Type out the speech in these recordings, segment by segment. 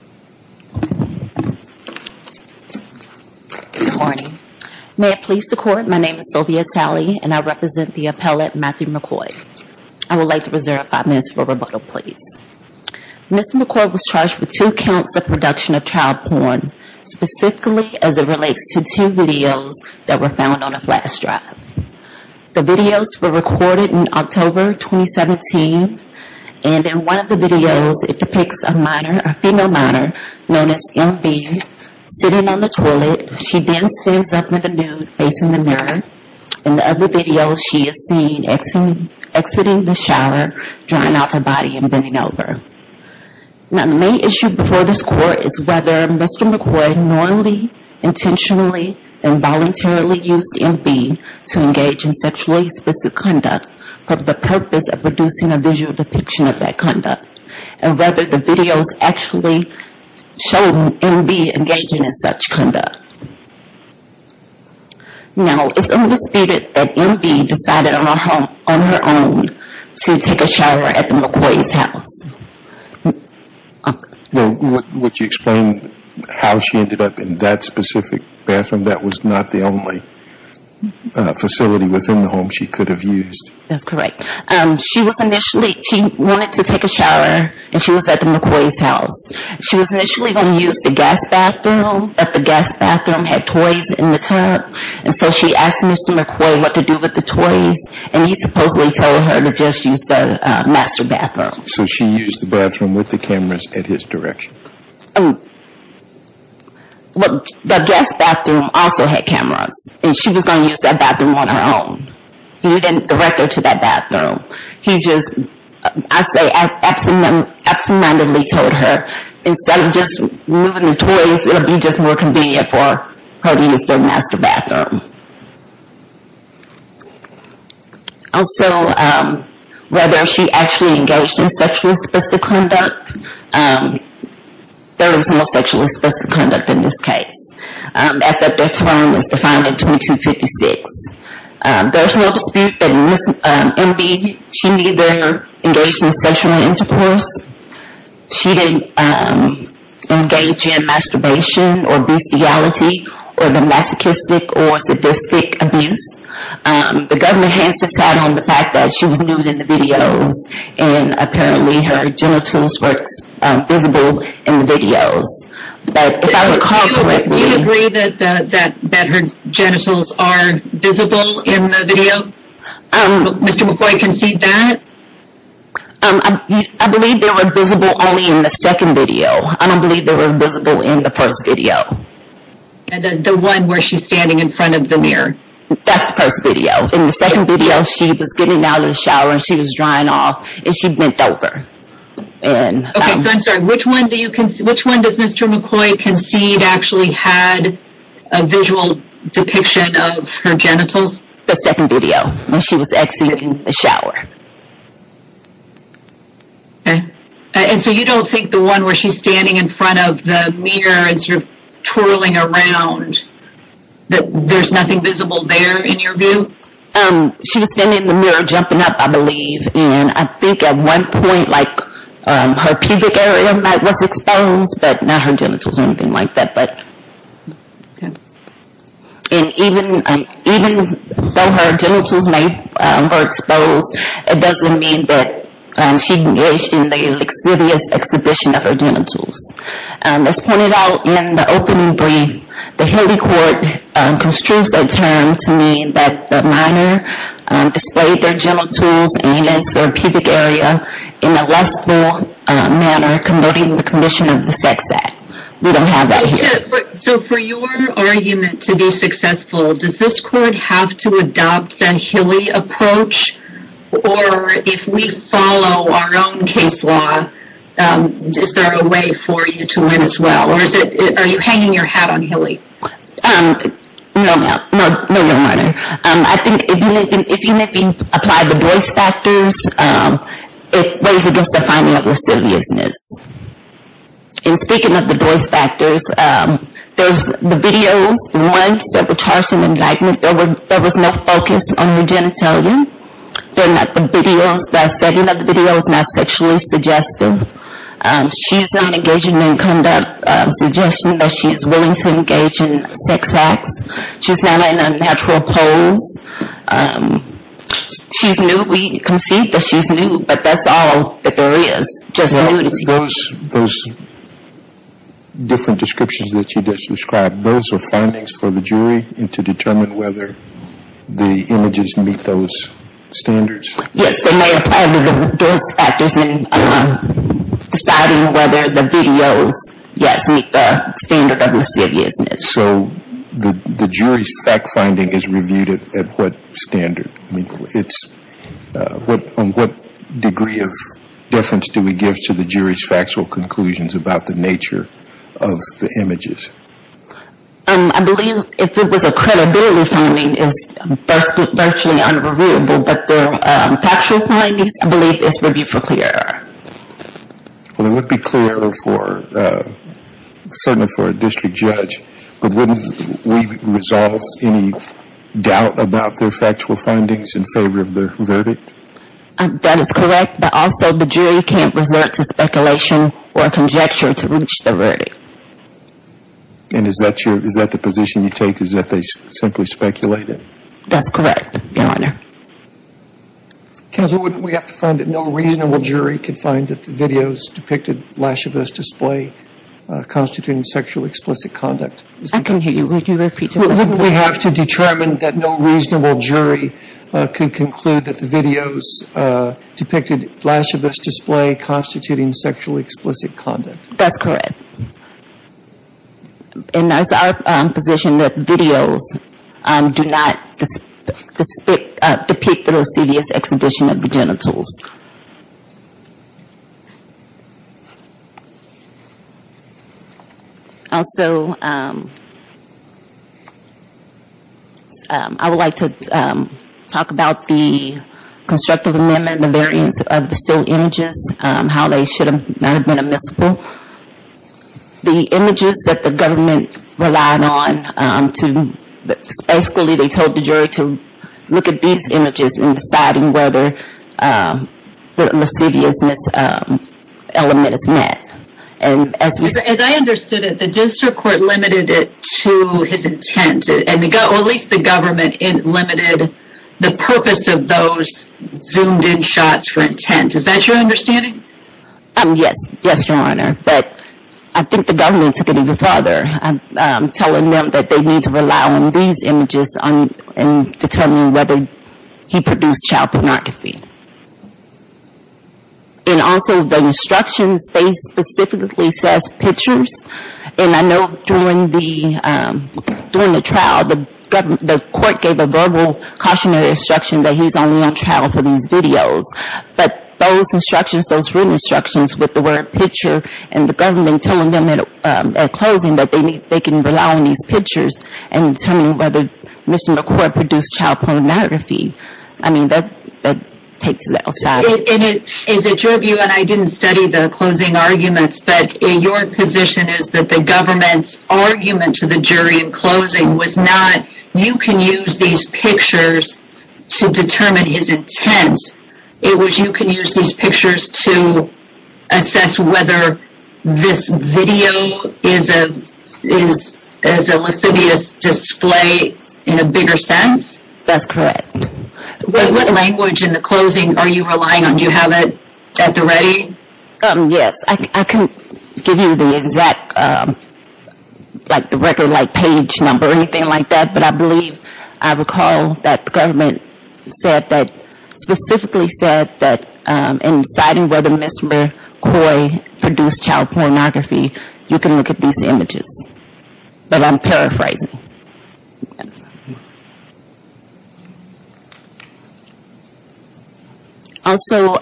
Good morning. May it please the court, my name is Sylvia Talley and I represent the appellate Matthew McCoy. I would like to reserve 5 minutes for rebuttal please. Mr. McCoy was charged with two counts of production of child porn, specifically as it relates to two videos that were found on a flash drive. The videos were recorded in October 2017 and in one of those videos we see a woman in the mirror, known as MB, sitting on the toilet. She then stands up in the nude facing the mirror. In the other video she is seen exiting the shower, drying off her body and bending over. Now the main issue before this court is whether Mr. McCoy normally, intentionally, and voluntarily used MB to engage in sexually explicit conduct for the purpose of producing a visual depiction of that show MB engaging in such conduct. Now it's undisputed that MB decided on her own to take a shower at the McCoy's house. Would you explain how she ended up in that specific bathroom? That was not the only facility within the home she could have used. That's correct. She was initially, she wanted to take a shower and she was at the McCoy's house. She was initially going to use the guest bathroom. The guest bathroom had toys in the tub. So she asked Mr. McCoy what to do with the toys and he supposedly told her to just use the master bathroom. So she used the bathroom with the cameras in his direction? The guest bathroom also had cameras and she was going to use that bathroom on her own. He didn't direct her to that bathroom. He mindedly told her, instead of just moving the toys, it would be just more convenient for her to use the master bathroom. Also, whether she actually engaged in sexual explicit conduct, there is no sexual explicit conduct in this case. As that term was defined in 2256. There is no dispute that Ms. MB, she neither engaged in sexual intercourse, she didn't engage in masturbation or bestiality or the masochistic or sadistic abuse. The government has decided on the fact that she was nude in the videos and apparently her genitals were visible in the videos. Do you agree that her genitals are visible in the video? Did Mr. McCoy concede that? I believe they were visible only in the second video. I don't believe they were visible in the first video. The one where she's standing in front of the mirror? That's the first video. In the second video, she was getting out of the shower and she was drying off and she bent over. Okay, so I'm sorry. Which one does Mr. McCoy concede actually had a visual depiction of her genitals? The second video when she was exiting the shower. Okay, and so you don't think the one where she's standing in front of the mirror and sort of twirling around, that there's nothing visible there in your view? She was standing in the mirror jumping up I believe and I think at one point like her pubic area was exposed, but not her genitals or anything like that. And even though her genitals were exposed, it doesn't mean that she engaged in the lixivious exhibition of her genitals. As pointed out in the opening brief, the Haley court construes that term to mean that the minor displayed their genitals genitals, anus, or pubic area in a less formal manner converting the condition of the sex act. We don't have that here. So for your argument to be successful, does this court have to adopt the Haley approach? Or if we follow our own case law, is there a way for you to win as well? Or are you hanging your hat on Haley? No, ma'am. No, Your Honor. I think even if you apply the voice factors, it weighs against the finding of lixiviousness. And speaking of the voice factors, there's the videos. Once there were charts in the indictment, there was no focus on her genitalia. They're not the videos. The setting of the video is not sexually suggestive. She's not engaging in conduct suggesting that she's willing to engage in sex acts. She's not in a natural pose. She's new. We concede that she's new, but that's all that there is. Just nudity. Those different descriptions that you just described, those are findings for the jury to determine whether the images meet those standards? Yes, they may apply to the voice factors in deciding whether the videos, yes, meet the standard of lixiviousness. So the jury's fact finding is reviewed at what standard? On what degree of difference do we give to the jury's factual conclusions about the nature of the images? I believe if it was a credibility finding, it's virtually unreviewable. But the factual findings, I believe it's reviewed for clear error. Well, it would be clear error certainly for a district judge. But wouldn't we resolve any doubt about their factual findings in favor of the verdict? That is correct. But also the jury can't resort to speculation or conjecture to reach the verdict. And is that the position you take, is that they simply speculate it? That's correct, Your Honor. Counsel, wouldn't we have to find that no reasonable jury could find that the videos depicted lixivious display constituting sexually explicit conduct? I can hear you. Would you repeat the question? Wouldn't we have to determine that no reasonable jury could conclude that the videos depicted lixivious display constituting sexually explicit conduct? That's correct. And that's our position, that videos do not depict the lixivious exhibition of the genitals. Also, I would like to talk about the constructive amendment, the variance of the still images, how they should not have been admissible. The images that the government relied on, basically they told the jury to look at these images in deciding whether the lixiviousness element is met. As I understood it, the district court limited it to his intent, or at least the government limited the purpose of those zoomed in shots for intent. Is that your understanding? Yes. Yes, Your Honor. But I think the government took it even further, telling them that they need to rely on these images in determining whether he produced child pornography. And also, the instructions, they specifically says pictures. And I know during the trial, the court gave a verbal cautionary instruction that he's only on trial for these videos. But those instructions, those written instructions with the word picture, and the government telling them at closing that they can rely on these pictures in determining whether Mr. McCoy produced child pornography. I mean, that takes it outside. Is it your view, and I didn't study the closing arguments, but your position is that the government's argument to the jury in closing was not, you can use these pictures to determine his intent. It was, you can use these pictures to assess whether this video is a lixivious display in a bigger sense? That's correct. What language in the closing are you relying on? Do you have it at the ready? Yes. I can give you the exact, like the record, like page number or anything like that. But I believe, I recall that the government said that, specifically said that in deciding whether Mr. McCoy produced child pornography, you can look at these images. But I'm paraphrasing. Also,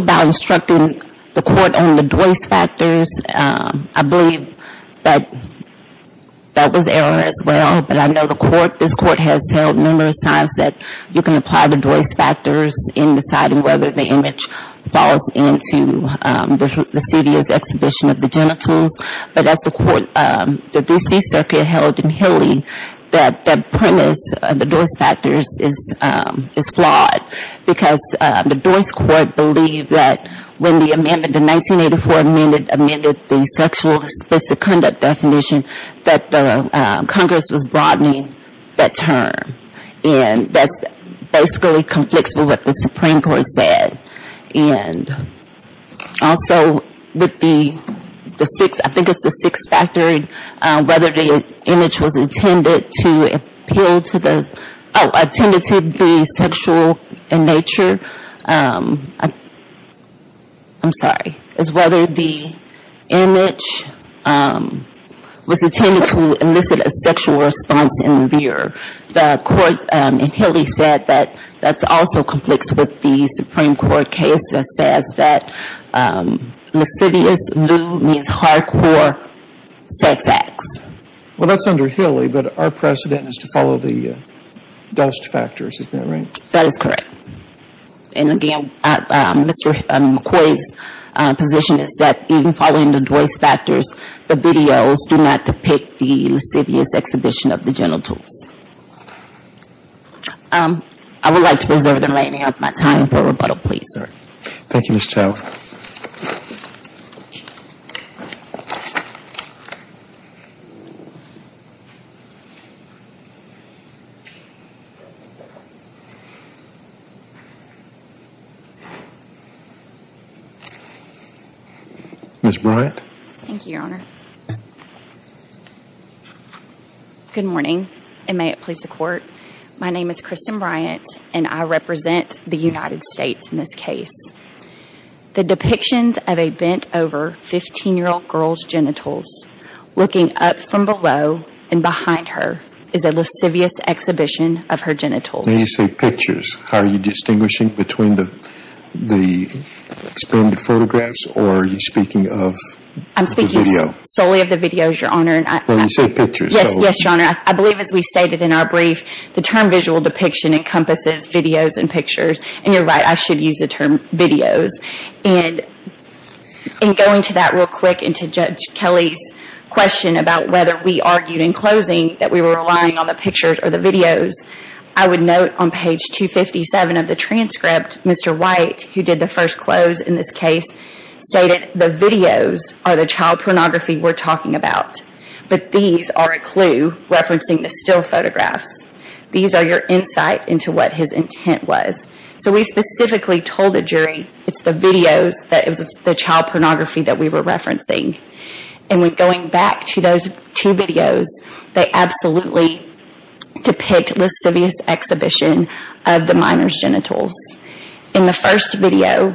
by instructing the court on the Joyce factors, I believe that that was error as well. But I know the court, this court has held numerous times that you can apply the Joyce factors in deciding whether the image falls into the lixivious exhibition of the genitals. But as the court, the D.C. Circuit held in Hilly that the premise of the Joyce factors is flawed. Because the Joyce court believed that when the amendment, the 1984 amendment amended the sexual specific conduct definition, that Congress was broadening that term. And that's basically conflicts with what the Supreme Court said. And also would be the sixth, I think it's the sixth factor, whether the image was intended to appeal to the, oh, attended to the sexual in nature. I'm sorry. Is whether the image was intended to elicit a sexual response in the viewer. The court in Hilly said that that's also conflicts with the Supreme Court case that says that lixivious, lew, means hardcore sex acts. Well, that's under Hilly, but our precedent is to follow the dust factors. Isn't that right? That is correct. And again, Mr. McCoy's position is that even following the Joyce factors, the videos do not depict the lixivious exhibition of the genitals. I would like to preserve the remaining of my time for rebuttal, please, sir. Thank you, Mr. Miss Bryant. Thank you, Your Honor. Good morning. And may it please the court. My name is Kristen Bryant and I represent the United States in this case. The depictions of a bent over 15 year old girl's genitals looking up from below and behind her is a lascivious exhibition of her genitals. They say pictures. How are you distinguishing between the the expanded photographs or are you speaking of. I'm speaking solely of the videos, Your Honor. And I say pictures. Yes, Your Honor. I believe as we stated in our brief, the term visual depiction encompasses videos and pictures. And you're right, I should use the term videos. And in going to that real quick and to Judge Kelly's question about whether we argued in closing that we were relying on the pictures or the videos, I would note on page 257 of the transcript, Mr. White, who did the first close in this case, stated the videos are the child pornography we're talking about. But these are a clue referencing the still photographs. These are your insight into what his intent was. So we specifically told the jury it's the videos that is the child pornography that we were referencing. And we're going back to those two videos. They absolutely depict lascivious exhibition of the minor's genitals. In the first video,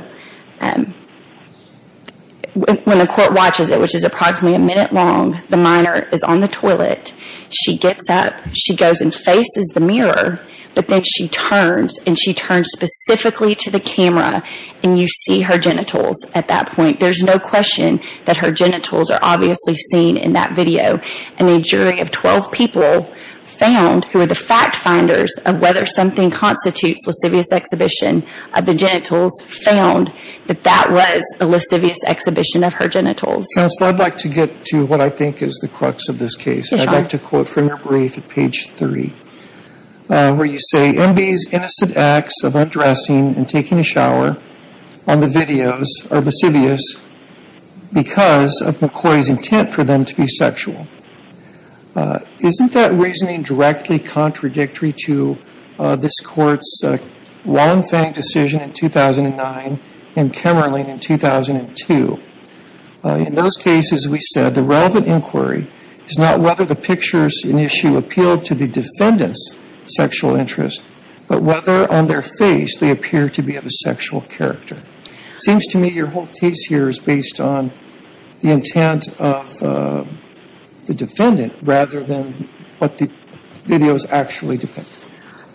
when the court watches it, which is approximately a minute long, the minor is on the toilet. She gets up. She goes and faces the mirror. But then she turns, and she turns specifically to the camera, and you see her genitals at that point. There's no question that her genitals are obviously seen in that video. And a jury of 12 people found, who are the fact finders of whether something constitutes lascivious exhibition of the genitals, found that that was a lascivious exhibition of her genitals. Counselor, I'd like to get to what I think is the crux of this case. Sure. And I'd like to quote from your brief at page 30, where you say, M.B.'s innocent acts of undressing and taking a shower on the videos are lascivious because of McCoy's intent for them to be sexual. Isn't that reasoning directly contradictory to this court's Wallenfang decision in 2009 and Kemmerling in 2002? In those cases, we said the relevant inquiry is not whether the pictures in issue appeal to the defendant's sexual interest, but whether on their face they appear to be of a sexual character. It seems to me your whole case here is based on the intent of the defendant rather than what the videos actually depict.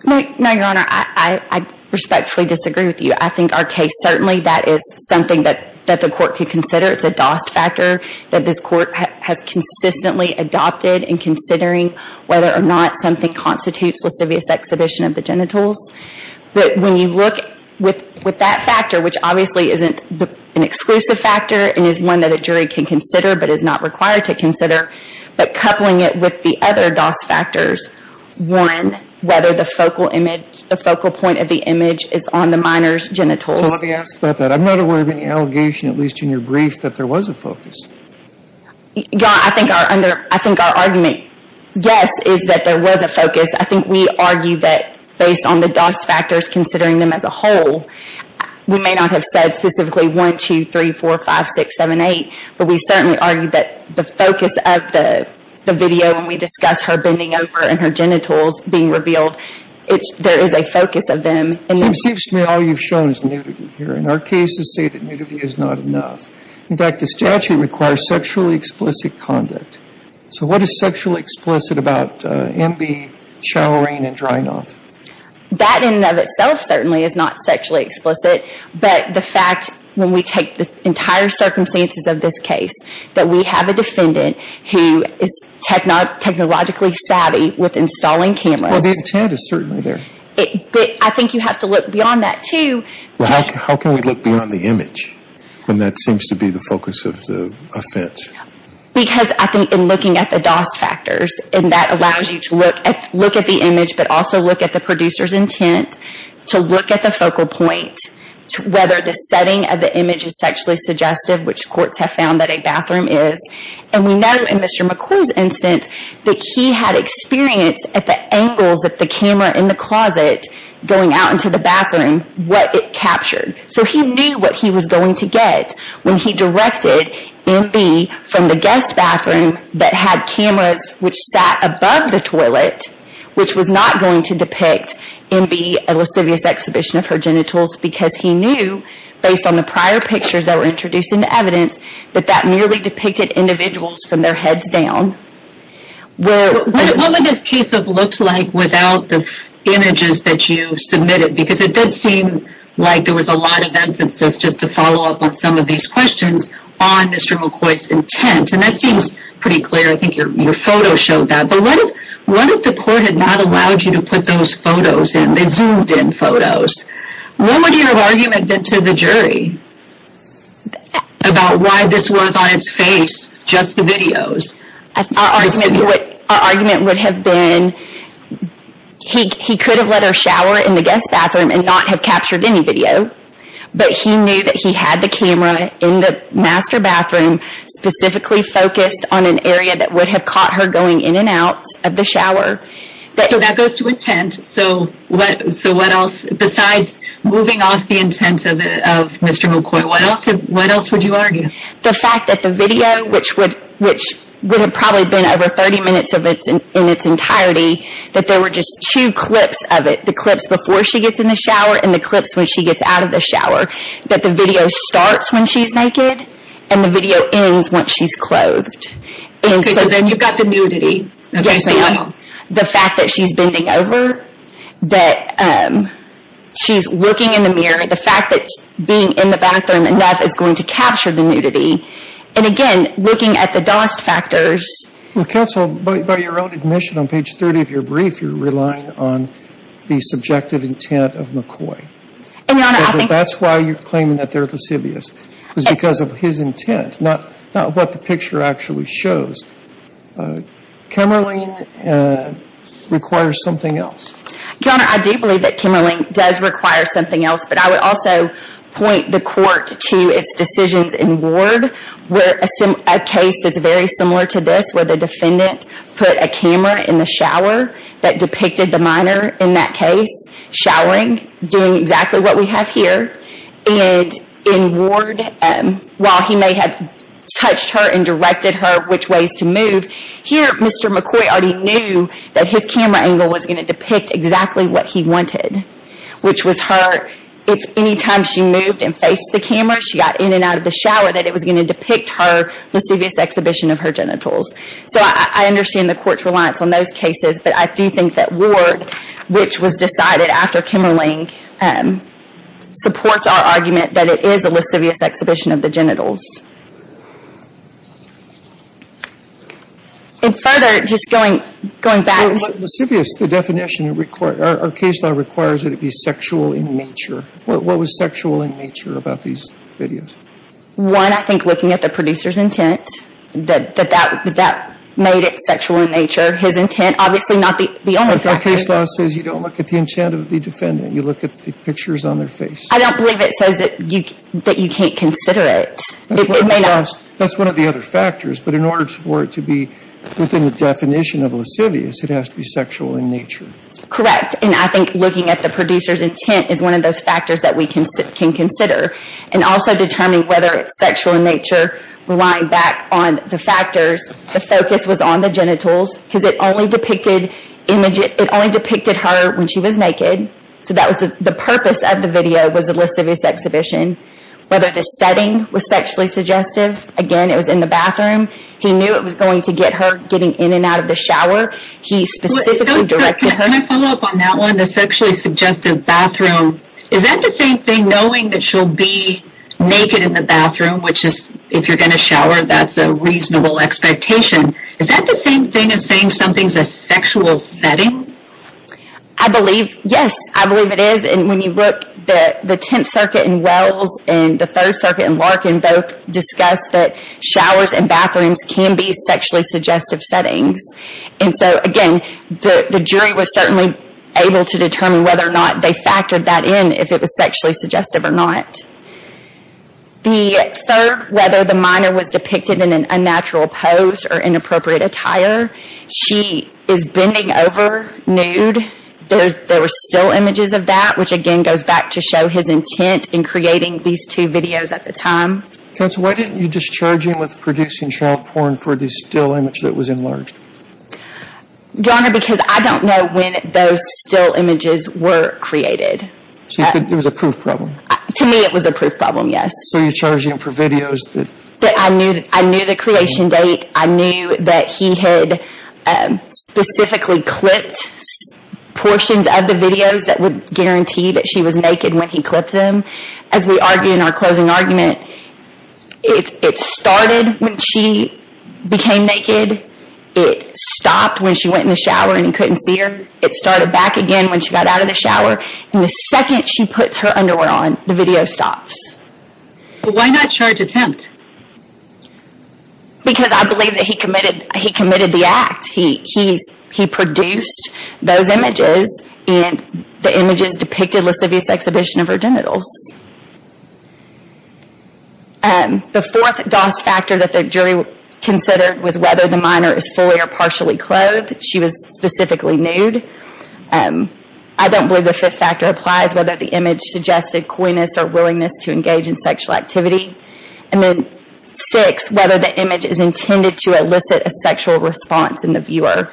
No, Your Honor. I respectfully disagree with you. I think our case, certainly, that is something that the court could consider. It's a DOS factor that this court has consistently adopted in considering whether or not something constitutes lascivious exhibition of the genitals. But when you look with that factor, which obviously isn't an exclusive factor and is one that a jury can consider but is not required to consider, but coupling it with the other DOS factors, one, whether the focal point of the image is on the minor's genitals. So let me ask about that. I'm not aware of any allegation, at least in your brief, that there was a focus. Your Honor, I think our argument, yes, is that there was a focus. I think we argue that based on the DOS factors, considering them as a whole, we may not have said specifically 1, 2, 3, 4, 5, 6, 7, 8, but we certainly argue that the focus of the video when we discuss her bending over and her genitals being revealed, there is a focus of them. It seems to me all you've shown is nudity here. And our cases say that nudity is not enough. In fact, the statute requires sexually explicit conduct. So what is sexually explicit about MB, showering, and drying off? That in and of itself certainly is not sexually explicit, but the fact when we take the entire circumstances of this case, that we have a defendant who is technologically savvy with installing cameras. Well, the intent is certainly there. I think you have to look beyond that, too. How can we look beyond the image when that seems to be the focus of the offense? Because I think in looking at the DOS factors, and that allows you to look at the image but also look at the producer's intent, to look at the focal point, whether the setting of the image is sexually suggestive, which courts have found that a bathroom is. And we know in Mr. McCoy's instance that he had experience at the angles of the camera in the closet going out into the bathroom, what it captured. So he knew what he was going to get when he directed MB from the guest bathroom that had cameras which sat above the toilet, which was not going to depict MB, a lascivious exhibition of her genitals, because he knew, based on the prior pictures that were introduced into evidence, that that merely depicted individuals from their heads down. What would this case have looked like without the images that you submitted? Because it did seem like there was a lot of emphasis, just to follow up on some of these questions, on Mr. McCoy's intent. And that seems pretty clear. I think your photo showed that. But what if the court had not allowed you to put those photos in, the zoomed-in photos? What would your argument have been to the jury about why this was, on its face, just the videos? Our argument would have been, he could have let her shower in the guest bathroom and not have captured any video. But he knew that he had the camera in the master bathroom, specifically focused on an area that would have caught her going in and out of the shower. So that goes to intent. So what else, besides moving off the intent of Mr. McCoy, what else would you argue? The fact that the video, which would have probably been over 30 minutes in its entirety, that there were just two clips of it. The clips before she gets in the shower and the clips when she gets out of the shower. That the video starts when she's naked and the video ends when she's clothed. Okay, so then you've got the nudity. The fact that she's bending over, that she's looking in the mirror, the fact that being in the bathroom enough is going to capture the nudity. And again, looking at the DOST factors. Counsel, by your own admission on page 30 of your brief, you're relying on the subjective intent of McCoy. That's why you're claiming that they're lascivious. It's because of his intent, not what the picture actually shows. Kamerlingh requires something else. Your Honor, I do believe that Kamerlingh does require something else. But I would also point the court to its decisions in Ward, where a case that's very similar to this, where the defendant put a camera in the shower that depicted the minor in that case, showering, doing exactly what we have here. And in Ward, while he may have touched her and directed her which ways to move, here Mr. McCoy already knew that his camera angle was going to depict exactly what he wanted. Which was her, if any time she moved and faced the camera, she got in and out of the shower, that it was going to depict her lascivious exhibition of her genitals. So I understand the court's reliance on those cases, but I do think that Ward, which was decided after Kamerlingh, supports our argument that it is a lascivious exhibition of the genitals. And further, just going back... But lascivious, the definition, our case law requires that it be sexual in nature. What was sexual in nature about these videos? One, I think looking at the producer's intent, that that made it sexual in nature. If our case law says you don't look at the intent of the defendant, you look at the pictures on their face. I don't believe it says that you can't consider it. That's one of the other factors, but in order for it to be within the definition of lascivious, it has to be sexual in nature. Correct, and I think looking at the producer's intent is one of those factors that we can consider. And also determining whether it's sexual in nature, relying back on the factors, the focus was on the genitals, because it only depicted her when she was naked. So that was the purpose of the video, was a lascivious exhibition. Whether the setting was sexually suggestive, again, it was in the bathroom. He knew it was going to get her getting in and out of the shower. He specifically directed her... Can I follow up on that one, the sexually suggestive bathroom? Is that the same thing, knowing that she'll be naked in the bathroom, which is, if you're going to shower, that's a reasonable expectation. Is that the same thing as saying something's a sexual setting? I believe, yes, I believe it is. And when you look, the Tenth Circuit and Wells and the Third Circuit and Larkin both discussed that showers and bathrooms can be sexually suggestive settings. And so, again, the jury was certainly able to determine whether or not they factored that in, if it was sexually suggestive or not. The third, whether the minor was depicted in an unnatural pose or inappropriate attire, she is bending over nude. There were still images of that, which, again, goes back to show his intent in creating these two videos at the time. Counsel, why didn't you discharge him with producing child porn for the still image that was enlarged? Your Honor, because I don't know when those still images were created. So it was a proof problem? To me, it was a proof problem, yes. So you charged him for videos? I knew the creation date. I knew that he had specifically clipped portions of the videos that would guarantee that she was naked when he clipped them. As we argue in our closing argument, it started when she became naked. It stopped when she went in the shower and he couldn't see her. It started back again when she got out of the shower. The second she puts her underwear on, the video stops. Why not charge attempt? Because I believe that he committed the act. He produced those images, and the images depicted lascivious exhibition of her genitals. The fourth DOS factor that the jury considered was whether the minor is fully or partially clothed. She was specifically nude. I don't believe the fifth factor applies, whether the image suggested coyness or willingness to engage in sexual activity. Six, whether the image is intended to elicit a sexual response in the viewer.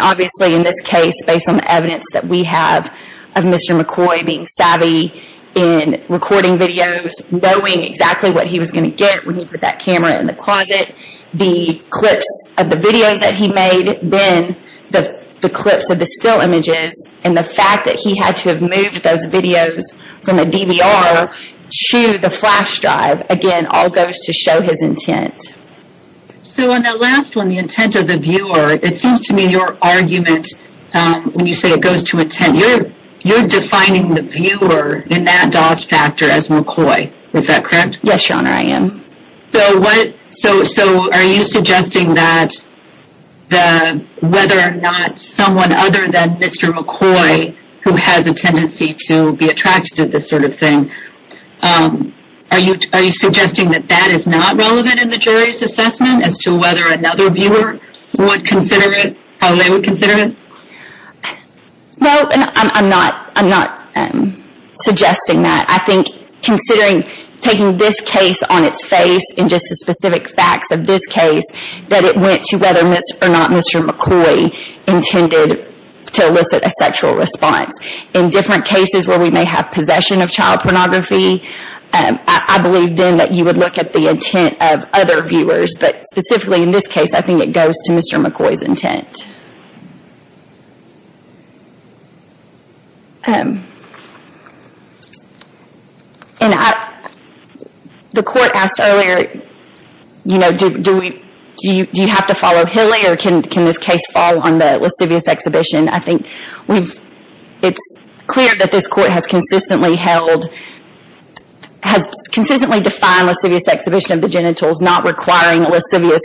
Obviously, in this case, based on the evidence that we have of Mr. McCoy being savvy in recording videos, knowing exactly what he was going to get when he put that camera in the closet, the clips of the videos that he made, then the clips of the still images, and the fact that he had to have moved those videos from a DVR to the flash drive, again, all goes to show his intent. So, on that last one, the intent of the viewer, it seems to me your argument, when you say it goes to intent, you're defining the viewer in that DOS factor as McCoy. Is that correct? Yes, Your Honor, I am. So, are you suggesting that whether or not someone other than Mr. McCoy, who has a tendency to be attracted to this sort of thing, are you suggesting that that is not relevant in the jury's assessment as to whether another viewer would consider it how they would consider it? No, I'm not suggesting that. I think, considering taking this case on its face, and just the specific facts of this case, that it went to whether or not Mr. McCoy intended to elicit a sexual response. In different cases where we may have possession of child pornography, I believe then that you would look at the intent of other viewers, but specifically in this case, I think it goes to Mr. McCoy's intent. The court asked earlier, do you have to follow Hilly, or can this case fall on the lascivious exhibition? I think it's clear that this court has consistently held, has consistently defined lascivious exhibition of the genitals, not requiring a lascivious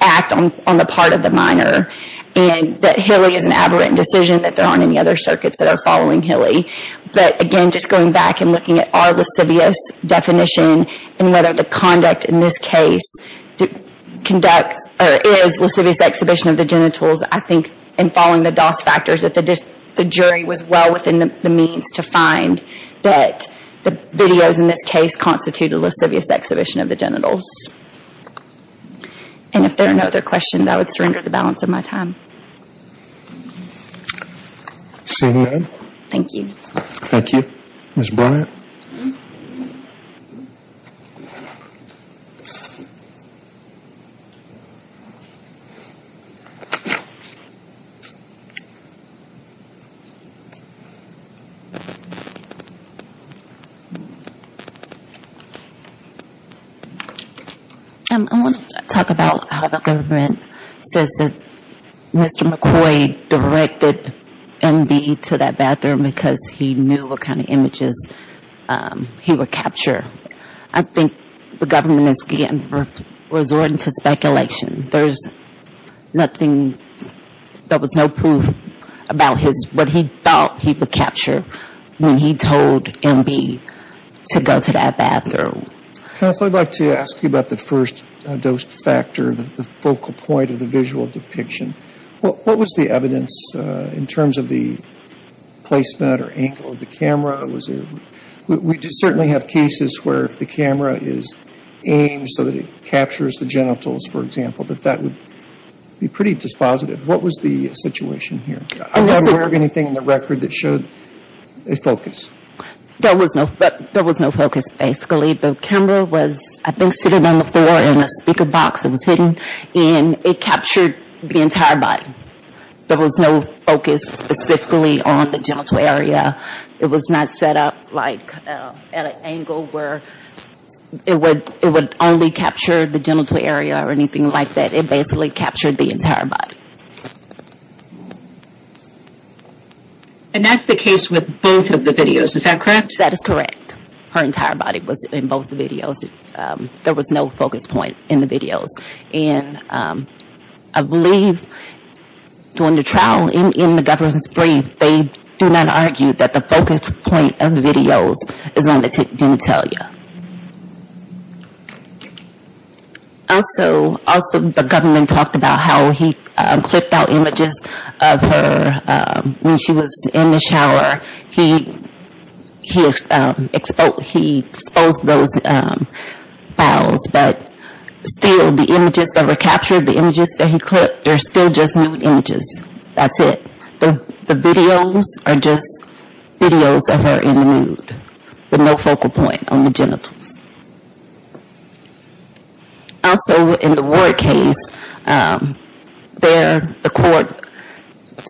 act on the part of the minor, and that Hilly is an aberrant decision, that there aren't any other circuits that are following Hilly. But again, just going back and looking at our lascivious definition, and whether the conduct in this case is lascivious exhibition of the genitals, I think, in following the DOS factors, that the jury was well within the means to find that the videos in this case constitute a lascivious exhibition of the genitals. And if there are no other questions, I would surrender the balance of my time. Seeing none. Thank you. Ms. Bryant. I want to talk about how the government says that Mr. McCoy directed MB to that bathroom because he knew what kind of images he would capture. I think the government is resorting to speculation. There's nothing, there was no proof about his, what he thought he would capture when he told MB to go to that bathroom. I'd like to ask you about the first DOS factor, the focal point of the visual depiction. What was the evidence in terms of the placement or angle of the camera? We certainly have cases where if the camera is aimed so that it captures the genitals, for example, that that would be pretty dispositive. What was the situation here? I'm not aware of anything in the record that showed a focus. There was no focus, basically. The camera was, I think, sitting on the floor in a speaker box. It was hidden. And it captured the entire body. There was no focus specifically on the genital area. It was not set up at an angle where it would only capture the genital area or anything like that. It basically captured the entire body. And that's the case with both of the videos. Is that correct? That is correct. Her entire body was in both the videos. There was no focus point in the videos. And I believe during the trial in the government's brief, they do not argue that the focus point of the videos is on the genitalia. Also, the government talked about how he clipped out images of her when she was in the shower. He exposed those files. But still, the images that were captured, the images that he clipped, they're still just nude images. That's it. The videos are just videos of her in the nude with no focal point on the genitals. Also, in the Ward case, there the court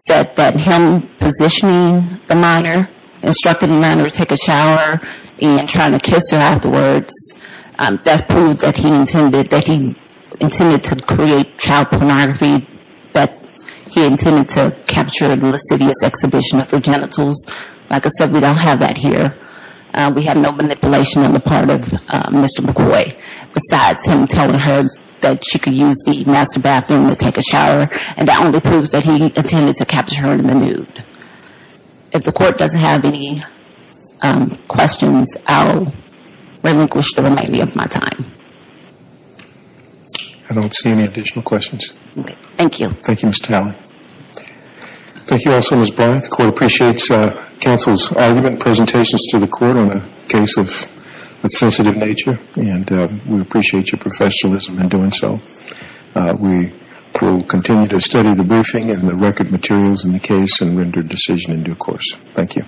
said that him positioning the minor, instructing the minor to take a shower and trying to kiss her afterwards, that proved that he intended to create child pornography, that he intended to capture a lascivious exhibition of her genitals. Like I said, we don't have that here. We have no manipulation on the part of Mr. McCoy, besides him telling her that she could use the master bathroom to take a shower, and that only proves that he intended to capture her in the nude. If the court doesn't have any questions, I'll relinquish the remainder of my time. I don't see any additional questions. Okay. Thank you. Thank you, Ms. Talley. Thank you also, Ms. Bryant. The court appreciates counsel's argument and presentations to the court on a case of sensitive nature, and we appreciate your professionalism in doing so. We will continue to study the briefing and the record materials in the case and render decision in due course. Thank you.